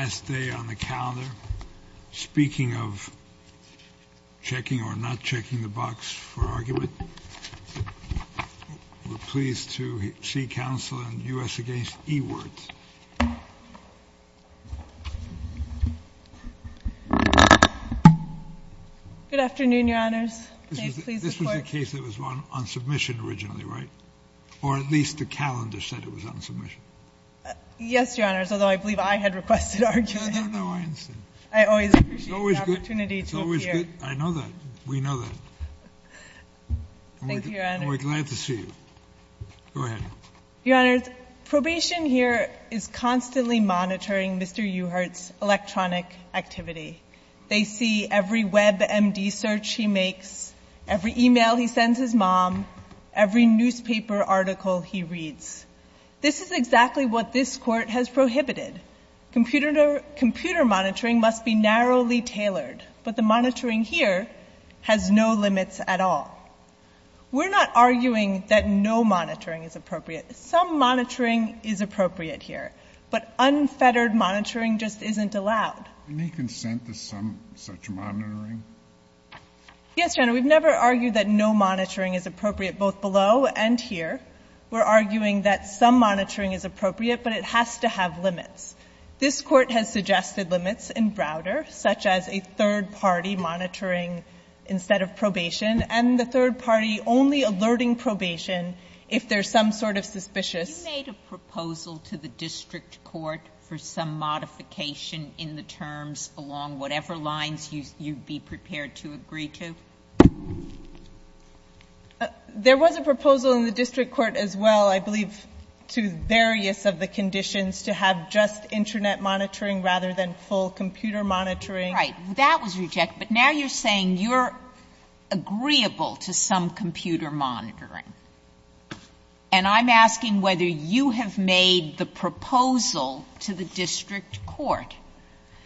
Good afternoon, your honors, this was a case that was run on submission originally, right? Or at least the calendar said it was on submission. Yes, your honors, although I believe I had requested arguing. No, no, no, I understand. I always appreciate the opportunity to appear. It's always good. I know that. We know that. Thank you, your honors. And we're glad to see you. Go ahead. Your honors, probation here is constantly monitoring Mr. Uhert's electronic activity. They see every WebMD search he makes, every e-mail he sends his mom, every newspaper article he reads. This is exactly what this court has prohibited. Computer monitoring must be narrowly tailored, but the monitoring here has no limits at all. We're not arguing that no monitoring is appropriate. Some monitoring is appropriate here, but unfettered monitoring just isn't allowed. Any consent to some such monitoring? Yes, your honor, we've never argued that no monitoring is appropriate both below and here. We're arguing that some monitoring is appropriate, but it has to have limits. This Court has suggested limits in Browder, such as a third party monitoring instead of probation, and the third party only alerting probation if there's some sort of suspicious. You made a proposal to the district court for some modification in the terms along whatever lines you'd be prepared to agree to? There was a proposal in the district court as well, I believe, to various of the conditions to have just internet monitoring rather than full computer monitoring. Right. That was rejected. But now you're saying you're agreeable to some computer monitoring. And I'm asking whether you have made the proposal to the district court.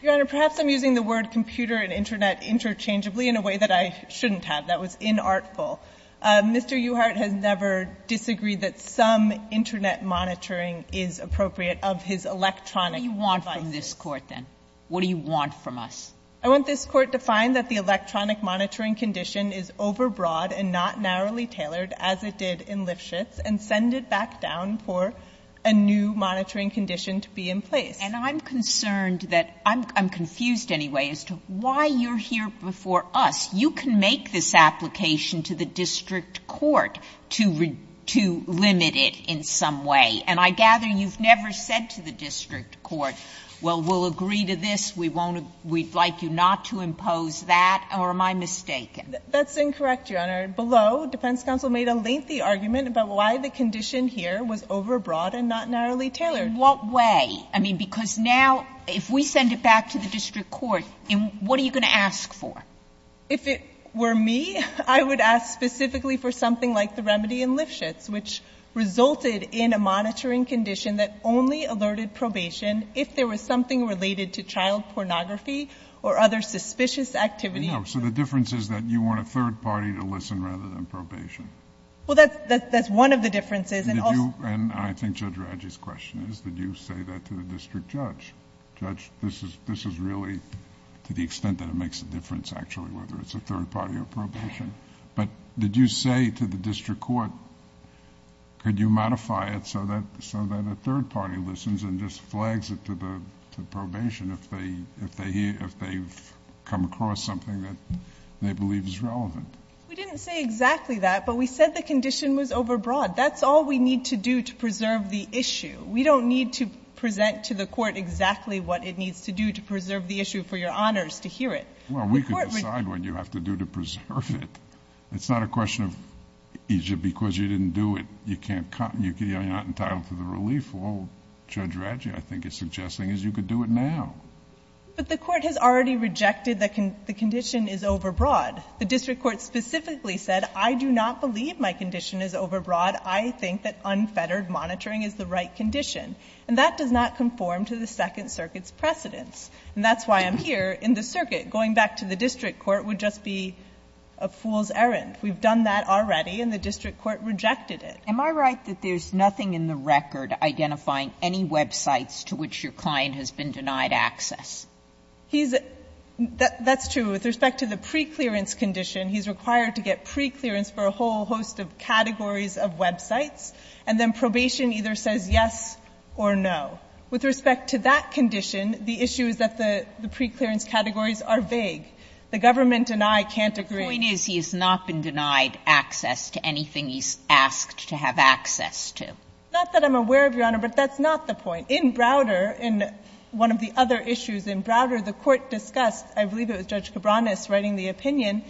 Your honor, perhaps I'm using the word computer and internet interchangeably in a way that I shouldn't have. That was inartful. Mr. Uhart has never disagreed that some internet monitoring is appropriate of his electronic devices. What do you want from this Court, then? What do you want from us? I want this Court to find that the electronic monitoring condition is overbroad and not narrowly tailored as it did in Lifshitz, and send it back down for a new monitoring condition to be in place. And I'm concerned that, I'm confused anyway, as to why you're here before us. You can make this application to the district court to limit it in some way. And I gather you've never said to the district court, well, we'll agree to this. We won't, we'd like you not to impose that. Or am I mistaken? That's incorrect, Your Honor. Below, defense counsel made a lengthy argument about why the condition here was overbroad and not narrowly tailored. In what way? I mean, because now, if we send it back to the district court, what are you going to ask for? If it were me, I would ask specifically for something like the remedy in Lifshitz, which resulted in a monitoring condition that only alerted probation if there was something related to child pornography or other suspicious activity. No. So the difference is that you want a third party to listen rather than probation. Well, that's one of the differences. I think Judge Radji's question is, did you say that to the district judge? Judge, this is really, to the extent that it makes a difference, actually, whether it's a third party or probation. But did you say to the district court, could you modify it so that a third party listens and just flags it to the probation if they've come across something that they believe is relevant? We didn't say exactly that, but we said the condition was overbroad. That's all we need to do to preserve the issue. We don't need to present to the court exactly what it needs to do to preserve the issue for your honors to hear it. Well, we can decide what you have to do to preserve it. It's not a question of, because you didn't do it, you're not entitled to the relief. Well, Judge Radji, I think, is suggesting is you could do it now. But the court has already rejected that the condition is overbroad. The district court specifically said, I do not believe my condition is overbroad. I think that unfettered monitoring is the right condition. And that does not conform to the Second Circuit's precedence. And that's why I'm here in the circuit. Going back to the district court would just be a fool's errand. We've done that already, and the district court rejected it. Am I right that there's nothing in the record identifying any websites to which your client has been denied access? He's at the – that's true. With respect to the preclearance condition, he's required to get preclearance for a whole host of categories of websites, and then probation either says yes or no. With respect to that condition, the issue is that the preclearance categories are vague. The government and I can't agree. The point is he has not been denied access to anything he's asked to have access to. Not that I'm aware of, Your Honor, but that's not the point. In Browder, in one of the other issues in Browder, the court discussed, I believe it was Judge Cabranes writing the opinion,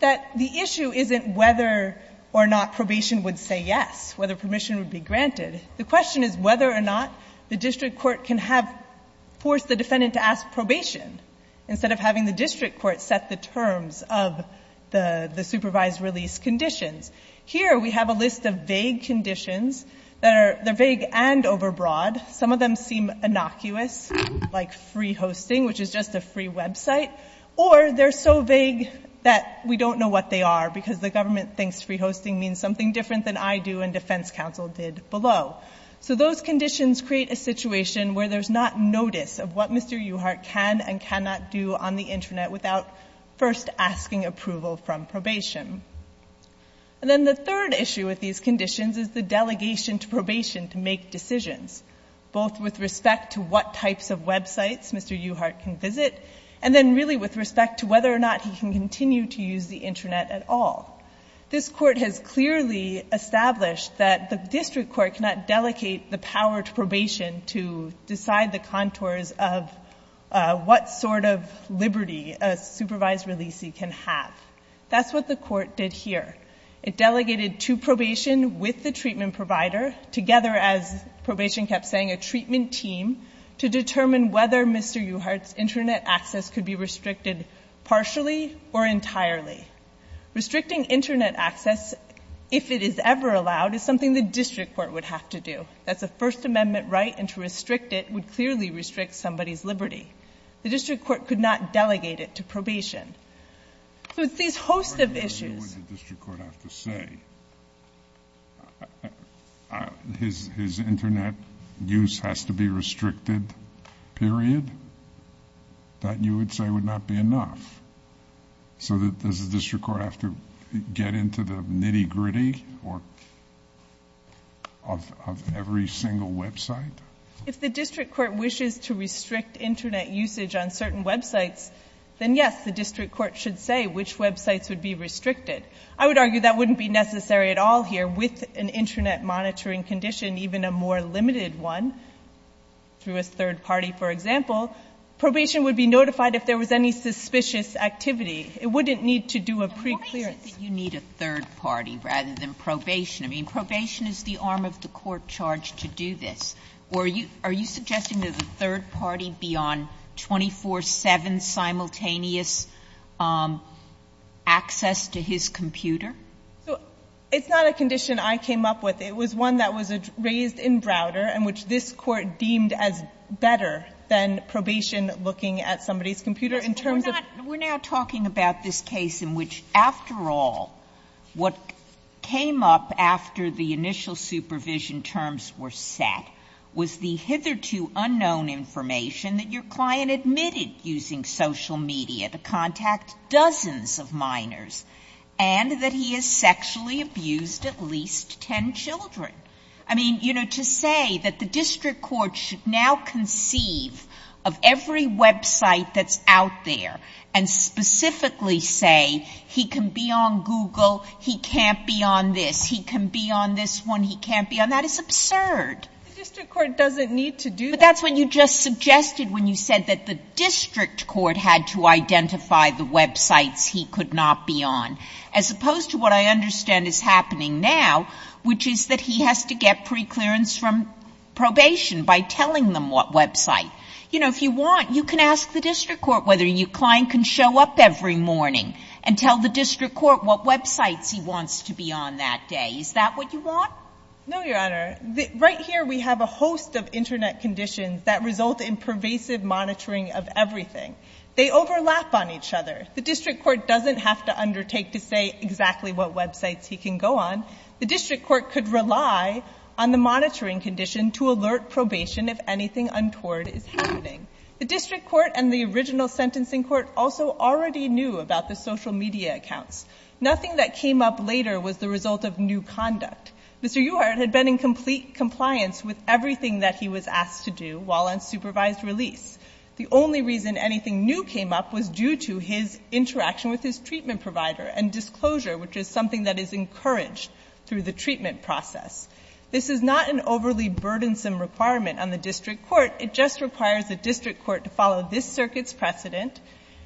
that the issue isn't whether or not probation would say yes, whether permission would be granted. The question is whether or not the district court can have – force the defendant to ask probation instead of having the district court set the terms of the supervised release conditions. Here, we have a list of vague conditions that are – they're vague and overbroad. Some of them seem innocuous, like free hosting, which is just a free website. Or they're so vague that we don't know what they are because the government thinks free hosting means something different than I do and defense counsel did below. So those conditions create a situation where there's not notice of what Mr. Uhart can and cannot do on the internet without first asking approval from probation. And then the third issue with these conditions is the delegation to probation to make decisions, both with respect to what types of websites Mr. Uhart can use, but really with respect to whether or not he can continue to use the internet at all. This court has clearly established that the district court cannot delegate the power to probation to decide the contours of what sort of liberty a supervised releasee can have. That's what the court did here. It delegated to probation with the treatment provider, together, as probation kept saying, a treatment team, to determine whether Mr. Uhart's internet access could be restricted partially or entirely. Restricting internet access, if it is ever allowed, is something the district court would have to do. That's a First Amendment right, and to restrict it would clearly restrict somebody's liberty. The district court could not delegate it to probation. So it's these host of issues. The court doesn't know what the district court has to say. His internet use has to be restricted, period? That, you would say, would not be enough. So does the district court have to get into the nitty-gritty of every single website? If the district court wishes to restrict internet usage on certain websites, then yes, the district court should say which websites would be restricted. I would argue that wouldn't be necessary at all here with an internet monitoring condition, even a more limited one, through a third party, for example. Probation would be notified if there was any suspicious activity. It wouldn't need to do a preclearance. Why is it that you need a third party rather than probation? I mean, probation is the arm of the court charged to do this. Are you suggesting that a third party be on 24-7 simultaneous access to his computer? It's not a condition I came up with. It was one that was raised in Browder and which this Court deemed as better than probation looking at somebody's computer in terms of – We're now talking about this case in which, after all, what came up after the initial supervision terms were set was the hitherto unknown information that your client admitted using social media to contact dozens of minors and that he has sexually abused at least 10 children. I mean, you know, to say that the district court should now conceive of every website that's out there and specifically say he can be on Google, he can't be on this, he can be on this one, he can't be on that is absurd. The district court doesn't need to do that. But that's what you just suggested when you said that the district court had to identify the websites he could not be on. As opposed to what I understand is happening now, which is that he has to get preclearance from probation by telling them what website. You know, if you want, you can ask the district court whether your client can show up every morning and tell the district court what websites he wants to be on that day. Is that what you want? No, Your Honor. Right here we have a host of Internet conditions that result in pervasive monitoring of everything. They overlap on each other. The district court doesn't have to undertake to say exactly what websites he can go on. The district court could rely on the monitoring condition to alert probation if anything untoward is happening. The district court and the original sentencing court also already knew about the social media accounts. Nothing that came up later was the result of new conduct. Mr. Uhart had been in complete compliance with everything that he was asked to do while on supervised release. The only reason anything new came up was due to his interaction with his treatment provider and disclosure, which is something that is encouraged through the treatment process. This is not an overly burdensome requirement on the district court. It just requires the district court to follow this circuit's precedent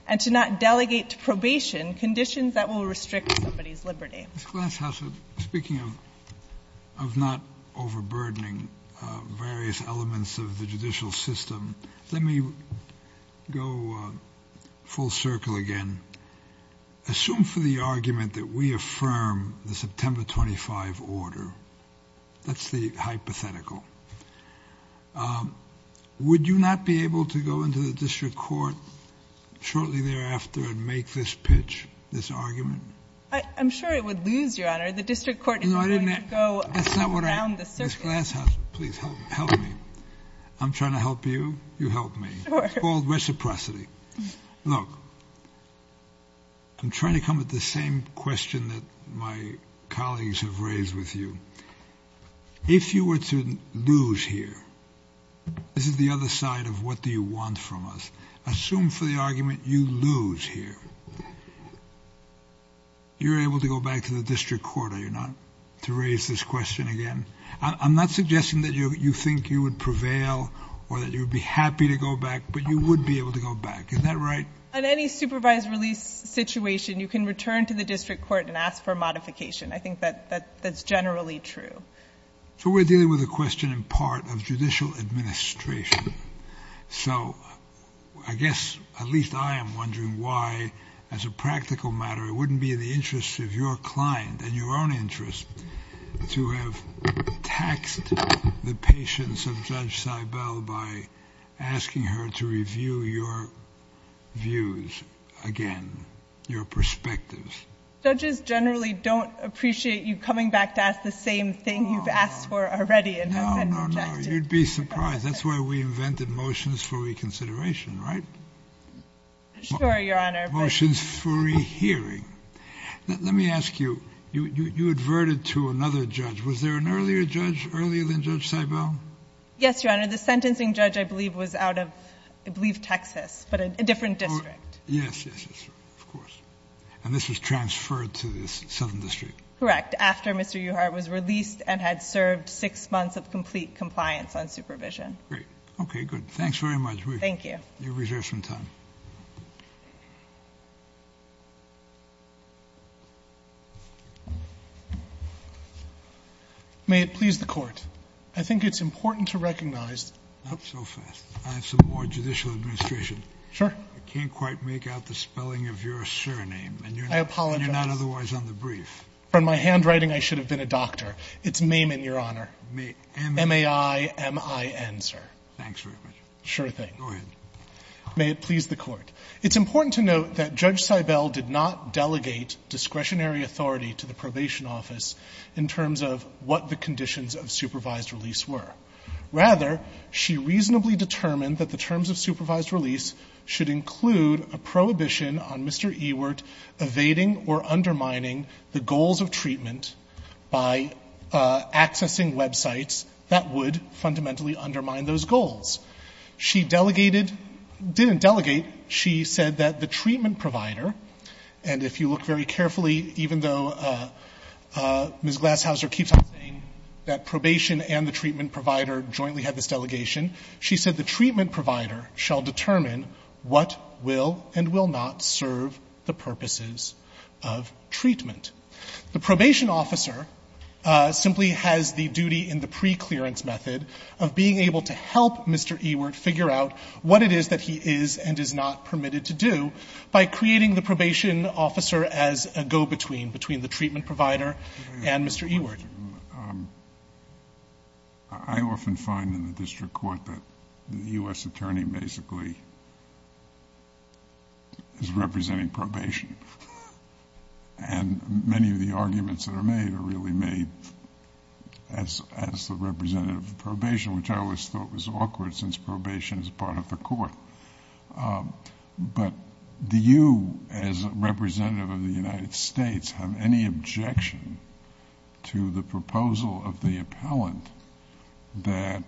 and to not delegate to probation conditions that will restrict somebody's liberty. Ms. Glasshouse, speaking of not overburdening various elements of the judicial system, let me go full circle again. Assume for the argument that we affirm the September 25 order. That's the hypothetical. Would you not be able to go into the district court shortly thereafter and make this pitch, this argument? I'm sure it would lose, Your Honor. The district court is going to go around the circuit. Ms. Glasshouse, please help me. I'm trying to help you. You help me. It's called reciprocity. Look, I'm trying to come at the same question that my colleagues have raised with you. If you were to lose here, this is the other side of what do you want from us. Assume for the argument you lose here. You're able to go back to the district court, are you not, to raise this question again? I'm not suggesting that you think you would prevail or that you would be happy to go back, but you would be able to go back. Is that right? On any supervised release situation, you can return to the district court and ask for modification. I think that that's generally true. So we're dealing with a question in part of judicial administration. So I guess at least I am wondering why, as a practical matter, it wouldn't be in the taxed the patience of Judge Seibel by asking her to review your views again, your perspectives. Judges generally don't appreciate you coming back to ask the same thing you've asked for already. No, no, no. You'd be surprised. That's why we invented motions for reconsideration, right? Sure, Your Honor. Motions for rehearing. Let me ask you, you adverted to another judge. Was there an earlier judge, earlier than Judge Seibel? Yes, Your Honor. The sentencing judge, I believe, was out of, I believe, Texas, but a different district. Yes, yes, yes, of course. And this was transferred to the Southern District? Correct. After Mr. Uhart was released and had served six months of complete compliance on supervision. Great. Okay, good. Thanks very much. Thank you. You have reserved some time. May it please the Court, I think it's important to recognize. Not so fast. I have some more judicial administration. Sure. I can't quite make out the spelling of your surname. I apologize. And you're not otherwise on the brief. From my handwriting, I should have been a doctor. It's Maiman, Your Honor. Maiman. M-A-I-M-I-N, sir. Thanks very much. Sure thing. Go ahead. May it please the Court, it's important to note that Judge Seibel did not delegate discretionary authority to the probation office in terms of what the conditions of supervised release were. Rather, she reasonably determined that the terms of supervised release should include a prohibition on Mr. Ewart evading or undermining the goals of treatment by accessing websites that would fundamentally undermine those goals. She delegated, didn't delegate, she said that the treatment provider, and if you look very carefully, even though Ms. Glashouser keeps on saying that probation and the treatment provider jointly had this delegation, she said the treatment provider shall determine what will and will not serve the purposes of treatment. The probation officer simply has the duty in the preclearance method of being able to help Mr. Ewart figure out what it is that he is and is not permitted to do by creating the probation officer as a go-between between the treatment provider and Mr. Ewart. I often find in the district court that the U.S. attorney basically is representing probation. And many of the arguments that are made are really made as the representative of probation, which I always thought was awkward since probation is part of the court. But do you as a representative of the United States have any objection to the proposal of the appellant that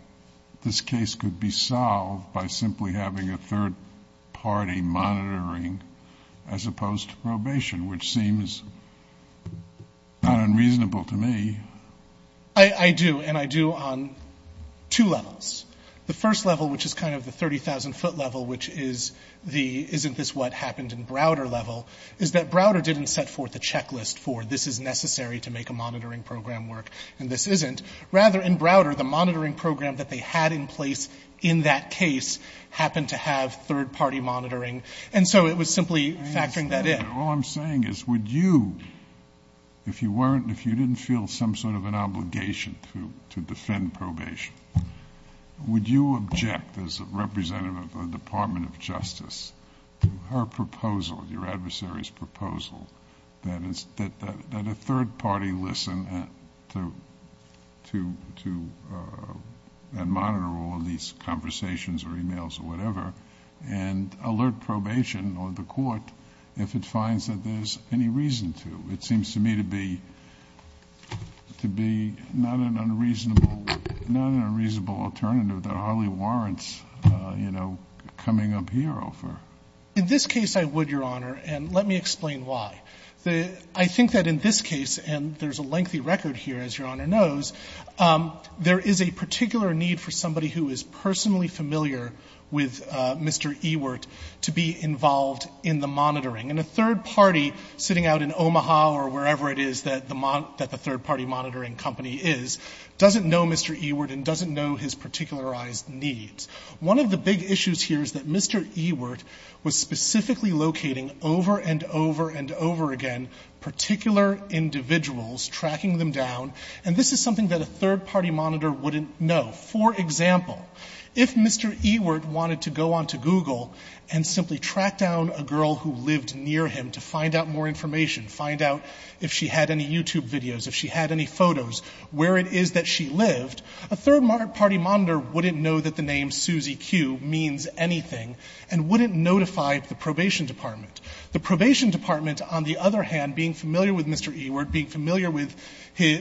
this case could be solved by simply having a third party monitoring as opposed to probation, which seems not unreasonable to me. I do, and I do on two levels. The first level, which is kind of the 30,000 foot level, which is the isn't this what happened in Browder level, is that Browder didn't set forth a checklist for this is necessary to make a monitoring program work and this isn't. Rather, in Browder, the monitoring program that they had in place in that case happened to have third party monitoring. And so it was simply factoring that in. All I'm saying is would you, if you weren't, if you didn't feel some sort of an obligation to defend probation, would you object as a representative of the Department of Justice to her proposal, your adversary's proposal, that a third party listen and monitor all of these conversations or emails or whatever, and then find that there's any reason to? It seems to me to be not an unreasonable alternative that hardly warrants coming up here. In this case, I would, Your Honor, and let me explain why. I think that in this case, and there's a lengthy record here, as Your Honor knows, there is a particular need for somebody who is personally familiar with Mr. Ewert to be involved in the monitoring. And a third party sitting out in Omaha or wherever it is that the third party monitoring company is, doesn't know Mr. Ewert and doesn't know his particularized needs. One of the big issues here is that Mr. Ewert was specifically locating over and over and over again particular individuals, tracking them down, and this is something that a third party monitor wouldn't know. For example, if Mr. Ewert wanted to go onto Google and simply track down a person near him to find out more information, find out if she had any YouTube videos, if she had any photos, where it is that she lived, a third party monitor wouldn't know that the name Susie Q means anything and wouldn't notify the probation department. The probation department, on the other hand, being familiar with Mr. Ewert, being familiar with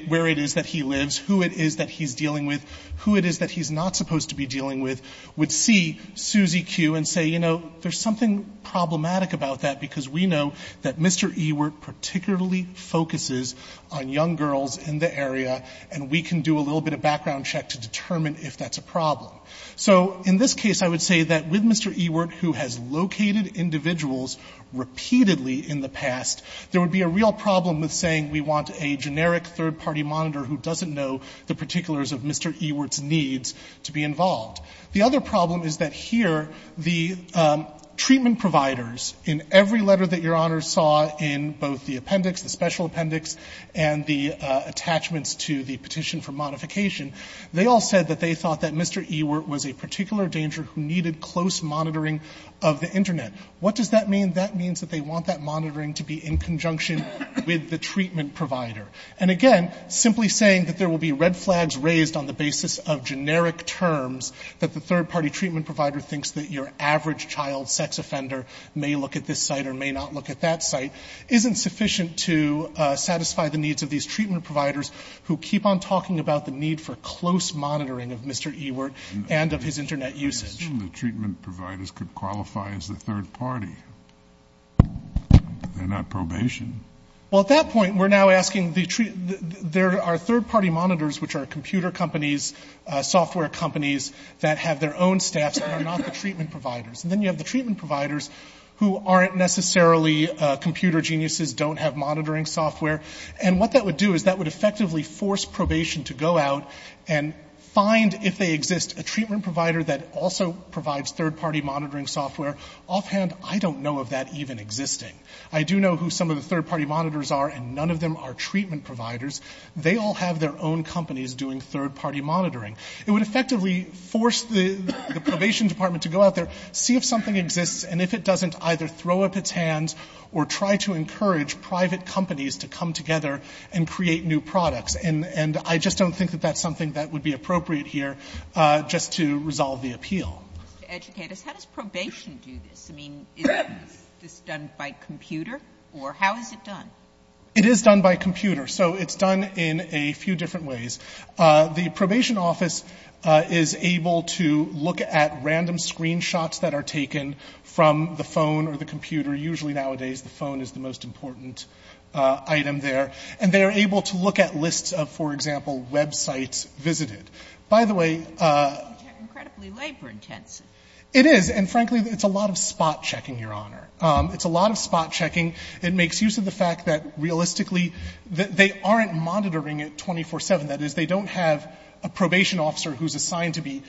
where it is that he lives, who it is that he's dealing with, who it is that he's not supposed to be dealing with, would see Susie Q and say, you know, there's something problematic about that because we know that Mr. Ewert particularly focuses on young girls in the area and we can do a little bit of background check to determine if that's a problem. So in this case, I would say that with Mr. Ewert, who has located individuals repeatedly in the past, there would be a real problem with saying we want a generic third party monitor who doesn't know the particulars of Mr. Ewert's needs to be involved. The other problem is that here, the treatment providers in every letter that Your Honor saw in both the appendix, the special appendix, and the attachments to the petition for modification, they all said that they thought that Mr. Ewert was a particular danger who needed close monitoring of the Internet. What does that mean? That means that they want that monitoring to be in conjunction with the treatment provider. And again, simply saying that there will be red flags raised on the basis of that the third party treatment provider thinks that your average child sex offender may look at this site or may not look at that site isn't sufficient to satisfy the needs of these treatment providers who keep on talking about the need for close monitoring of Mr. Ewert and of his Internet usage. I assume the treatment providers could qualify as the third party. They're not probation. Well, at that point, we're now asking the three, there are third party monitors, which are computer companies, software companies that have their own staff that are not the treatment providers. And then you have the treatment providers who aren't necessarily computer geniuses, don't have monitoring software. And what that would do is that would effectively force probation to go out and find if they exist a treatment provider that also provides third party monitoring software. Offhand, I don't know of that even existing. I do know who some of the third party monitors are and none of them are treatment providers. They all have their own companies doing third party monitoring. It would effectively force the probation department to go out there, see if something exists, and if it doesn't, either throw up its hands or try to encourage private companies to come together and create new products. And I just don't think that that's something that would be appropriate here just to resolve the appeal. Educators, how does probation do this? I mean, is this done by computer or how is it done? It is done by computer. So it's done in a few different ways. The probation office is able to look at random screenshots that are taken from the phone or the computer. Usually nowadays the phone is the most important item there. And they are able to look at lists of, for example, websites visited. By the way... It's incredibly labor intensive. It is. And frankly, it's a lot of spot checking, Your Honor. It's a lot of spot checking. It makes use of the fact that, realistically, they aren't monitoring it 24-7. That is, they don't have a probation officer who's assigned to be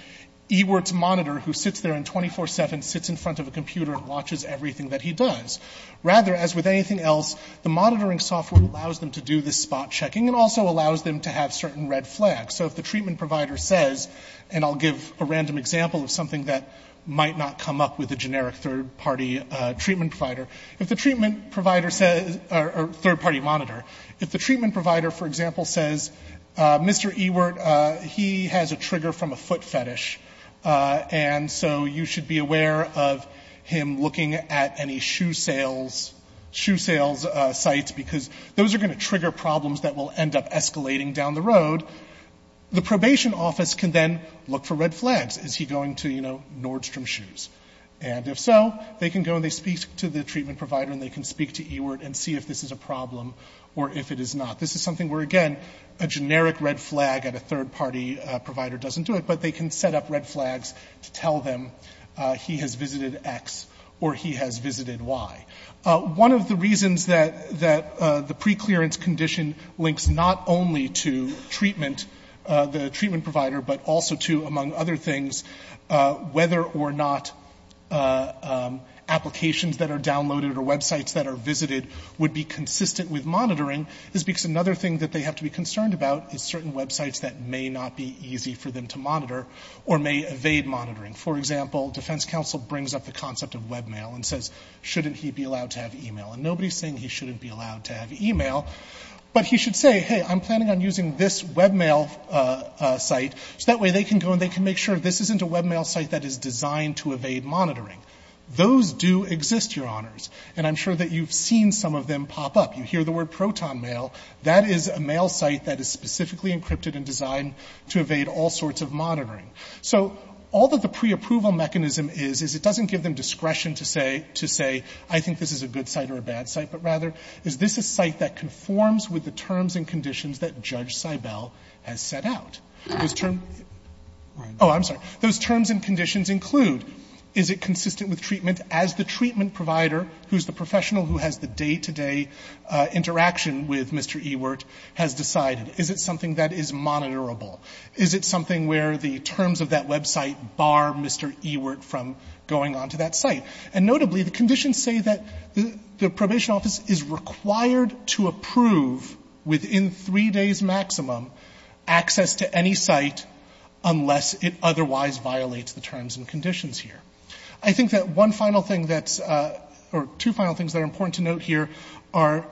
EWRT's monitor who sits there and 24-7 sits in front of a computer and watches everything that he does. Rather, as with anything else, the monitoring software allows them to do this spot checking and also allows them to have certain red flags. So if the treatment provider says, and I'll give a random example of something that might not come up with a generic third party treatment provider, if the treatment provider says, or third party monitor, if the treatment provider, for example, says, Mr. EWRT, he has a trigger from a foot fetish. And so you should be aware of him looking at any shoe sales sites because those are going to trigger problems that will end up escalating down the road. The probation office can then look for red flags. Is he going to Nordstrom Shoes? And if so, they can go and they speak to the treatment provider and they can speak to EWRT and see if this is a problem or if it is not. This is something where, again, a generic red flag at a third party provider doesn't do it, but they can set up red flags to tell them he has visited X or he has visited Y. One of the reasons that the preclearance condition links not only to treatment, the treatment provider, but also to, among other things, whether or not applications that are downloaded or websites that are visited would be consistent with monitoring is because another thing that they have to be concerned about is certain websites that may not be easy for them to monitor or may evade monitoring. For example, defense counsel brings up the concept of webmail and says, shouldn't he be allowed to have email? And nobody is saying he shouldn't be allowed to have email, but he should say, hey, I'm planning on using this webmail site. So that way they can go and they can make sure this isn't a webmail site that is designed to evade monitoring. Those do exist, Your Honors. And I'm sure that you've seen some of them pop up. You hear the word proton mail. That is a mail site that is specifically encrypted and designed to evade all sorts of monitoring. So all that the preapproval mechanism is, is it doesn't give them discretion to say, I think this is a good site or a bad site, but rather is this a site that conforms with the terms and conditions that Judge Seibel has set out? Those terms? Oh, I'm sorry. Those terms and conditions include, is it consistent with treatment as the treatment provider, who's the professional who has the day-to-day interaction with Mr. Ewert, has decided? Is it something that is monitorable? Is it something where the terms of that website bar Mr. Ewert from going onto that site? And notably, the conditions say that the probation office is required to use any site unless it otherwise violates the terms and conditions here. I think that one final thing that's, or two final things that are important to note here are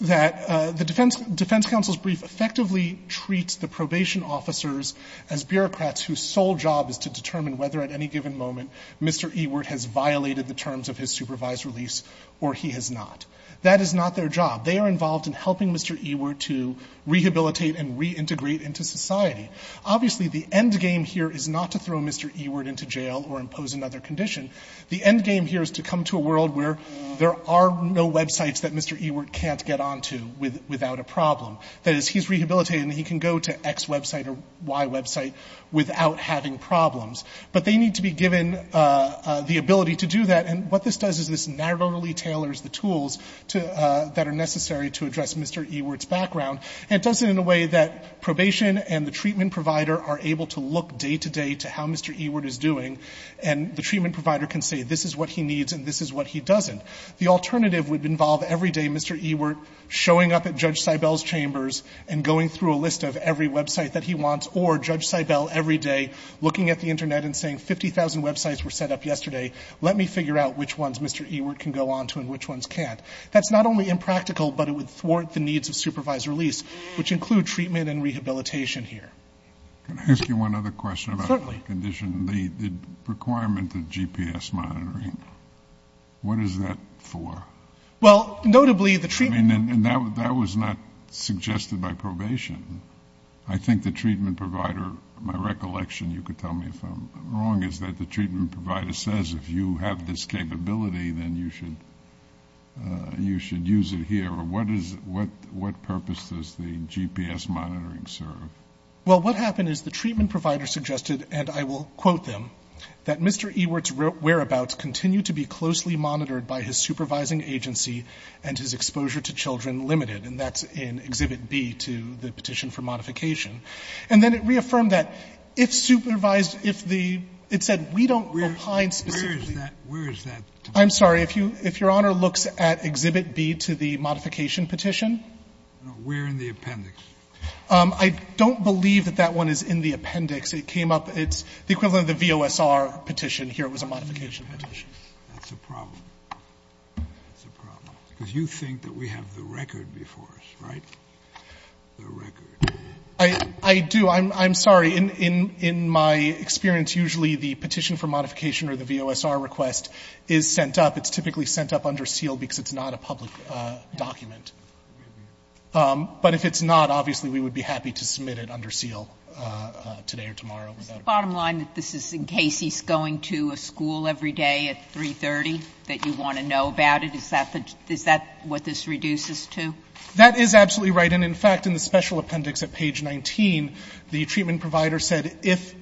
that the defense counsel's brief effectively treats the probation officers as bureaucrats whose sole job is to determine whether at any given moment Mr. Ewert has violated the terms of his supervised release or he has not. That is not their job. They are involved in helping Mr. Ewert to rehabilitate and reintegrate into society. Obviously, the end game here is not to throw Mr. Ewert into jail or impose another condition. The end game here is to come to a world where there are no websites that Mr. Ewert can't get onto without a problem. That is, he's rehabilitated and he can go to X website or Y website without having problems. But they need to be given the ability to do that, and what this does is this narrowly tailors the tools that are necessary to address Mr. Ewert's background. And it does it in a way that probation and the treatment provider are able to look day-to-day to how Mr. Ewert is doing, and the treatment provider can say this is what he needs and this is what he doesn't. The alternative would involve every day Mr. Ewert showing up at Judge Seibel's chambers and going through a list of every website that he wants or Judge Seibel every day looking at the Internet and saying 50,000 websites were set up yesterday. Let me figure out which ones Mr. Ewert can go onto and which ones can't. That's not only impractical, but it would thwart the needs of supervised release, which include treatment and rehabilitation here. Can I ask you one other question about the condition? Certainly. The requirement of GPS monitoring, what is that for? Well, notably the treatment... I mean, and that was not suggested by probation. I think the treatment provider, my recollection, you could tell me if I'm wrong, is that the treatment provider says if you have this capability, then you should use it here. What purpose does the GPS monitoring serve? Well, what happened is the treatment provider suggested, and I will quote them, that Mr. Ewert's whereabouts continue to be closely monitored by his supervising agency and his exposure to children limited. And that's in Exhibit B to the petition for modification. And then it reaffirmed that if supervised, if the, it said we don't opine specifically... Where is that? I'm sorry. If your Honor looks at Exhibit B to the modification petition... No, we're in the appendix. I don't believe that that one is in the appendix. It came up, it's the equivalent of the VOSR petition. Here it was a modification petition. That's a problem. That's a problem. Because you think that we have the record before us, right? The record. I do. I'm sorry. In my experience, usually the petition for modification or the VOSR request is sent up. It's typically sent up under seal because it's not a public document. But if it's not, obviously we would be happy to submit it under seal today or tomorrow. Is the bottom line that this is in case he's going to a school every day at 330 that you want to know about it? Is that what this reduces to? That is absolutely right. And in fact, in the special appendix at page 19, the treatment provider said if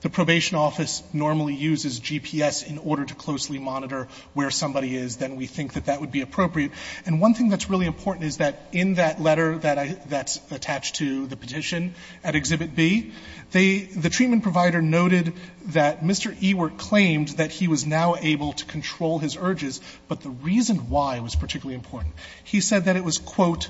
the probation office normally uses GPS in order to closely monitor where somebody is, then we think that that would be appropriate. And one thing that's really important is that in that letter that's attached to the petition at Exhibit B, the treatment provider noted that Mr. Ewart claimed that he was now able to control his urges, but the reason why was particularly important. He said that it was, quote,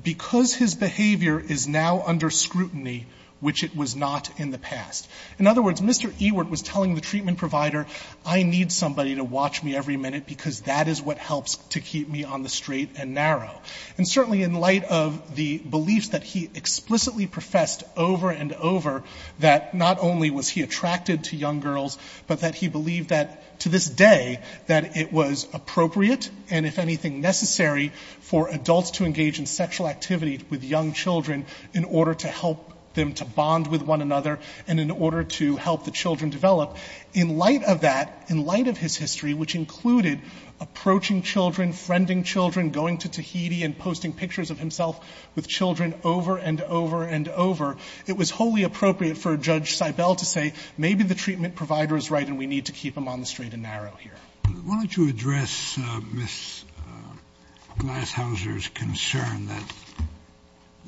because his behavior is now under scrutiny, which it was not in the past. In other words, Mr. Ewart was telling the treatment provider, I need somebody to watch me every minute because that is what helps to keep me on the straight and narrow. And certainly in light of the beliefs that he explicitly professed over and over, that not only was he attracted to young girls, but that he believed that to this day, that it was appropriate and, if anything, necessary for adults to engage in sexual activity with young children in order to help them to bond with one another and in order to help the children develop. In light of that, in light of his history, which included approaching children, friending children, going to Tahiti and posting pictures of himself with children over and over and over, it was wholly appropriate for Judge Seibel to say, maybe the treatment provider is right and we need to keep them on the straight and narrow here. Why don't you address Ms. Glashauser's concern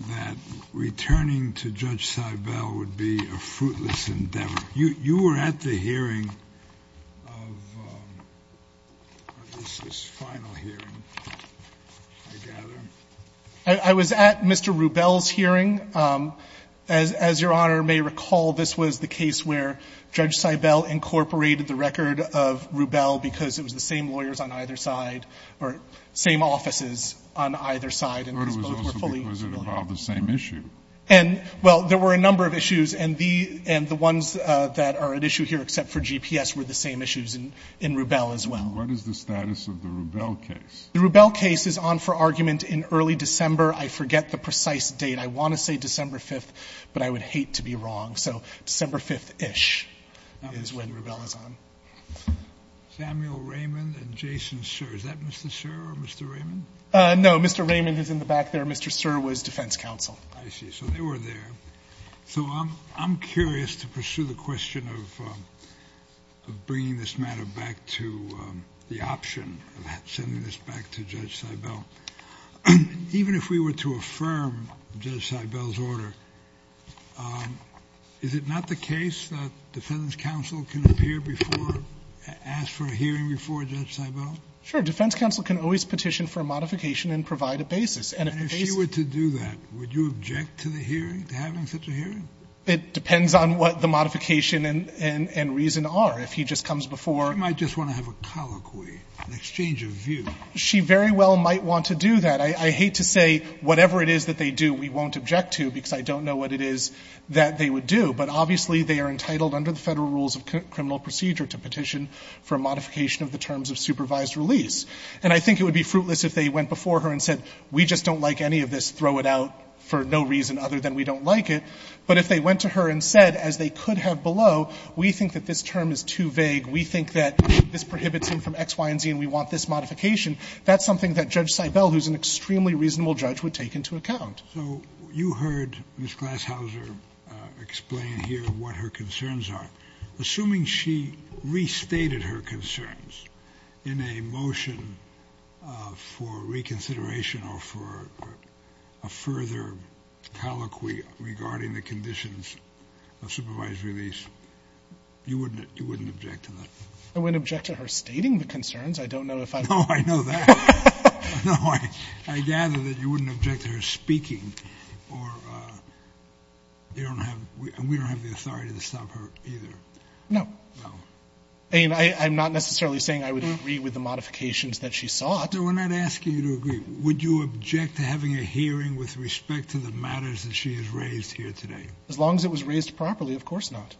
that returning to Judge Seibel would be a fruitless endeavor. You were at the hearing of, this is final hearing, I gather. I was at Mr. Rubel's hearing. As Your Honor may recall, this was the case where Judge Seibel incorporated the record of Rubel because it was the same lawyers on either side or same offices on either side. Was it about the same issue? Well, there were a number of issues and the ones that are at issue here except for GPS were the same issues in Rubel as well. What is the status of the Rubel case? The Rubel case is on for argument in early December. I forget the precise date. I want to say December 5th, but I would hate to be wrong. So December 5th-ish is when Rubel is on. Samuel Raymond and Jason Sirr. Is that Mr. Sirr or Mr. Raymond? No, Mr. Raymond is in the back there. Mr. Sirr was defense counsel. I see. So they were there. So I'm curious to pursue the question of bringing this matter back to the option of sending this back to Judge Seibel. Even if we were to affirm Judge Seibel's order, is it not the case that defense counsel can appear before, ask for a hearing before Judge Seibel? Sure. Defense counsel can always petition for a modification and provide a basis. And if she were to do that, would you object to the hearing, to having such a hearing? It depends on what the modification and reason are. If he just comes before. She might just want to have a colloquy, an exchange of view. She very well might want to do that. I hate to say whatever it is that they do, we won't object to, because I don't know what it is that they would do. But obviously they are entitled under the Federal Rules of Criminal Procedure to petition for a modification of the terms of supervised release. And I think it would be fruitless if they went before her and said, we just don't like any of this, throw it out, for no reason other than we don't like it. But if they went to her and said, as they could have below, we think that this term is too vague, we think that this prohibits him from X, Y, and Z, and we want this modification, that's something that Judge Seibel, who's an extremely reasonable judge, would take into account. So you heard Ms. Glashauser explain here what her concerns are. Assuming she restated her concerns in a motion for reconsideration or for a further colloquy regarding the conditions of supervised release, you wouldn't object to that? I wouldn't object to her stating the concerns. I don't know if I... No, I know that. No, I gather that you wouldn't object to her speaking. Or you don't have, we don't have the authority to stop her either. No. No. I mean, I'm not necessarily saying I would agree with the modifications that she sought. So we're not asking you to agree. Would you object to having a hearing with respect to the matters that she has raised here today? As long as it was raised properly, of course not.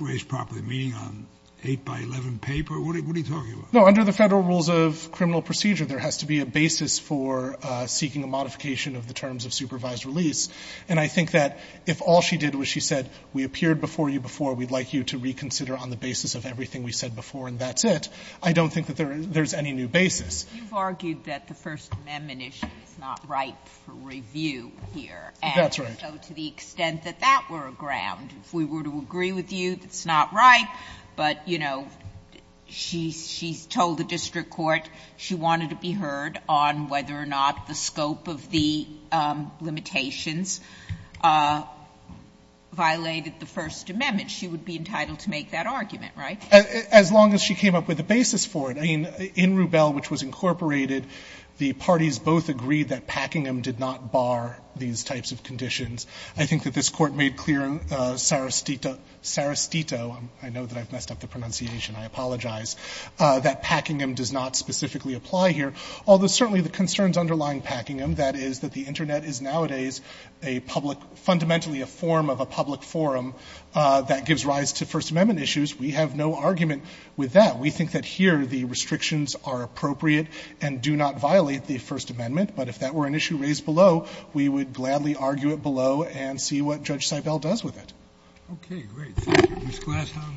Raised properly? Meaning on 8 by 11 paper? What are you talking about? No, under the Federal Rules of Criminal Procedure, there has to be a basis for seeking a modification of the terms of supervised release. And I think that if all she did was she said, we appeared before you before, we'd like you to reconsider on the basis of everything we said before and that's it, I don't think that there's any new basis. You've argued that the First Amendment issue is not ripe for review here. That's right. And so to the extent that that were a ground, if we were to agree with you, it's not ripe. But, you know, she's told the district court she wanted to be heard on whether or not the scope of the limitations violated the First Amendment. She would be entitled to make that argument, right? As long as she came up with a basis for it. I mean, in Rubell, which was incorporated, the parties both agreed that Packingham did not bar these types of conditions. I think that this court made clear Sarastito, I know that I've messed up the pronunciation, I apologize, that Packingham does not specifically apply here. Although certainly the concerns underlying Packingham, that is that the internet is nowadays a public, fundamentally a form of a public forum that gives rise to First Amendment issues. We have no argument with that. We think that here the restrictions are appropriate and do not violate the First Amendment. But if that were an issue raised below, we would gladly argue it below and see what Judge Seibel does with it. Okay, great. Thank you. Ms. Glashow.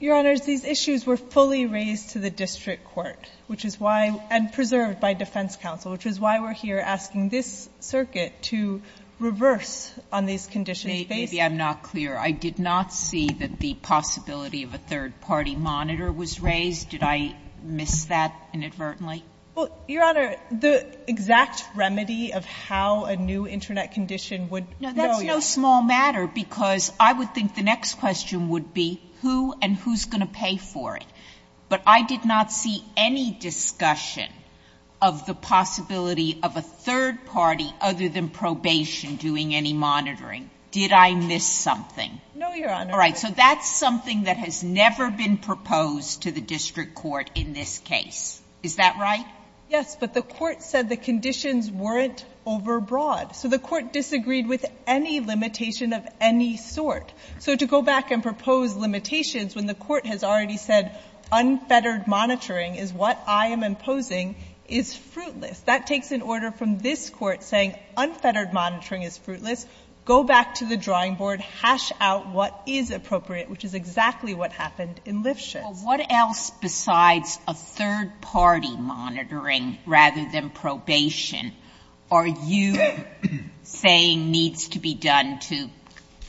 Your Honors, these issues were fully raised to the district court, which is why, and preserved by defense counsel, which is why we're here asking this circuit to reverse on these conditions. Maybe I'm not clear. I did not see that the possibility of a third-party monitor was raised. Did I miss that inadvertently? Well, Your Honor, the exact remedy of how a new internet condition would... No, that's no small matter, because I would think the next question would be who and who's going to pay for it. But I did not see any discussion of the possibility of a third party other than probation doing any monitoring. Did I miss something? No, Your Honor. All right, so that's something that has never been proposed to the district court in this case. Is that right? Yes, but the court said the conditions weren't overbroad. So the court disagreed with any limitation of any sort. So to go back and propose limitations when the court has already said unfettered monitoring is what I am imposing is fruitless. That takes an order from this court saying unfettered monitoring is fruitless. Go back to the drawing board. And hash out what is appropriate, which is exactly what happened in Lifshitz. What else besides a third party monitoring rather than probation are you saying needs to be done to,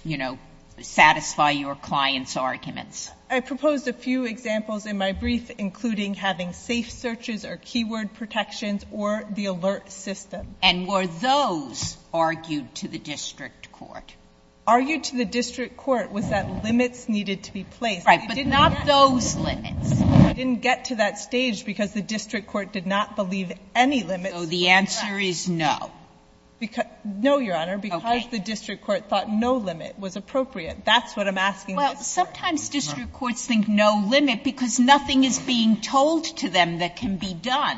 you know, satisfy your client's arguments? I proposed a few examples in my brief including having safe searches or keyword protections or the alert system. And were those argued to the district court? Argued to the district court was that limits needed to be placed. Right, but not those limits. It didn't get to that stage because the district court did not believe any limits. So the answer is no. No, Your Honor, because the district court thought no limit was appropriate. That's what I'm asking. Well, sometimes district courts think no limit because nothing is being told to them that can be done.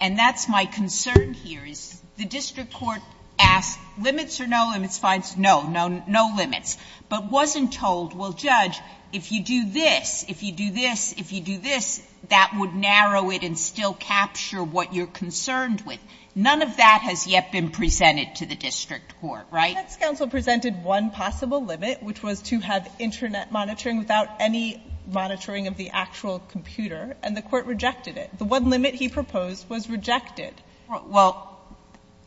And that's my concern here is the district court asked limits or no limits, fines, no. No limits. But wasn't told, well, Judge, if you do this, if you do this, if you do this, that would narrow it and still capture what you're concerned with. None of that has yet been presented to the district court, right? The defense counsel presented one possible limit which was to have internet monitoring without any monitoring of the actual computer and the court rejected it. The one limit he proposed was rejected. Well,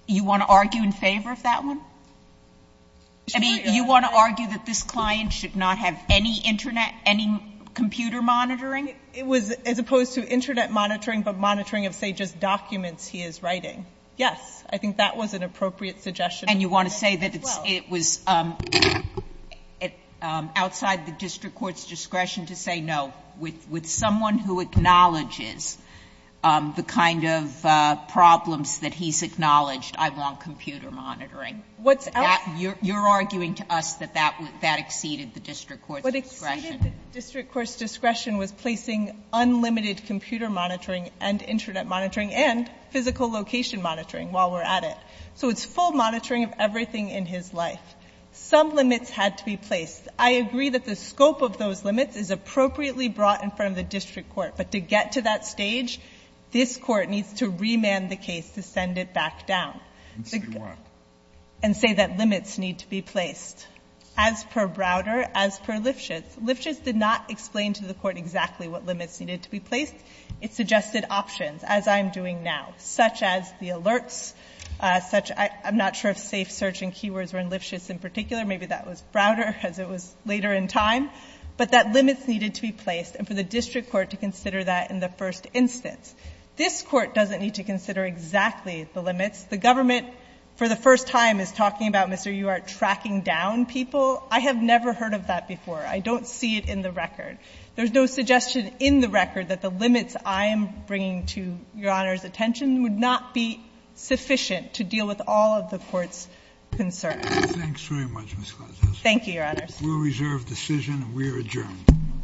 you want to argue in favor of that one? I mean, you want to argue that this client should not have any internet, any computer monitoring? It was as opposed to internet monitoring but monitoring of, say, just documents he is writing. Yes, I think that was an appropriate suggestion. And you want to say that it was outside the district court's discretion to say no with someone who acknowledges the kind of problems that he's acknowledged. I want computer monitoring. You're arguing to us that that exceeded the district court's discretion. What exceeded the district court's discretion was placing unlimited computer monitoring and internet monitoring and physical location monitoring while we're at it. So it's full monitoring of everything in his life. Some limits had to be placed. I agree that the scope of those limits is appropriately brought in front of the district court, but to get to that stage, this court needs to remand the case to send it back down. And say what? And say that limits need to be placed. As per Browder, as per Lifshitz, Lifshitz did not explain to the court exactly what limits needed to be placed. It suggested options, as I am doing now, such as the alerts, I'm not sure if safe search and keywords were in Lifshitz in particular, maybe that was Browder, as it was later in time, but that limits needed to be placed and for the district court to consider that in the first instance. This court doesn't need to consider exactly the limits. The government, for the first time, is talking about, Mr. Uhart, tracking down people. I have never heard of that before. I don't see it in the record. There's no suggestion in the record that the limits I am bringing to Your Honor's attention would not be sufficient to deal with all of the court's concerns. Thanks very much, Ms. Cortez. Thank you, Your Honors. We'll reserve decision and we are adjourned. Court is adjourned. Thank you.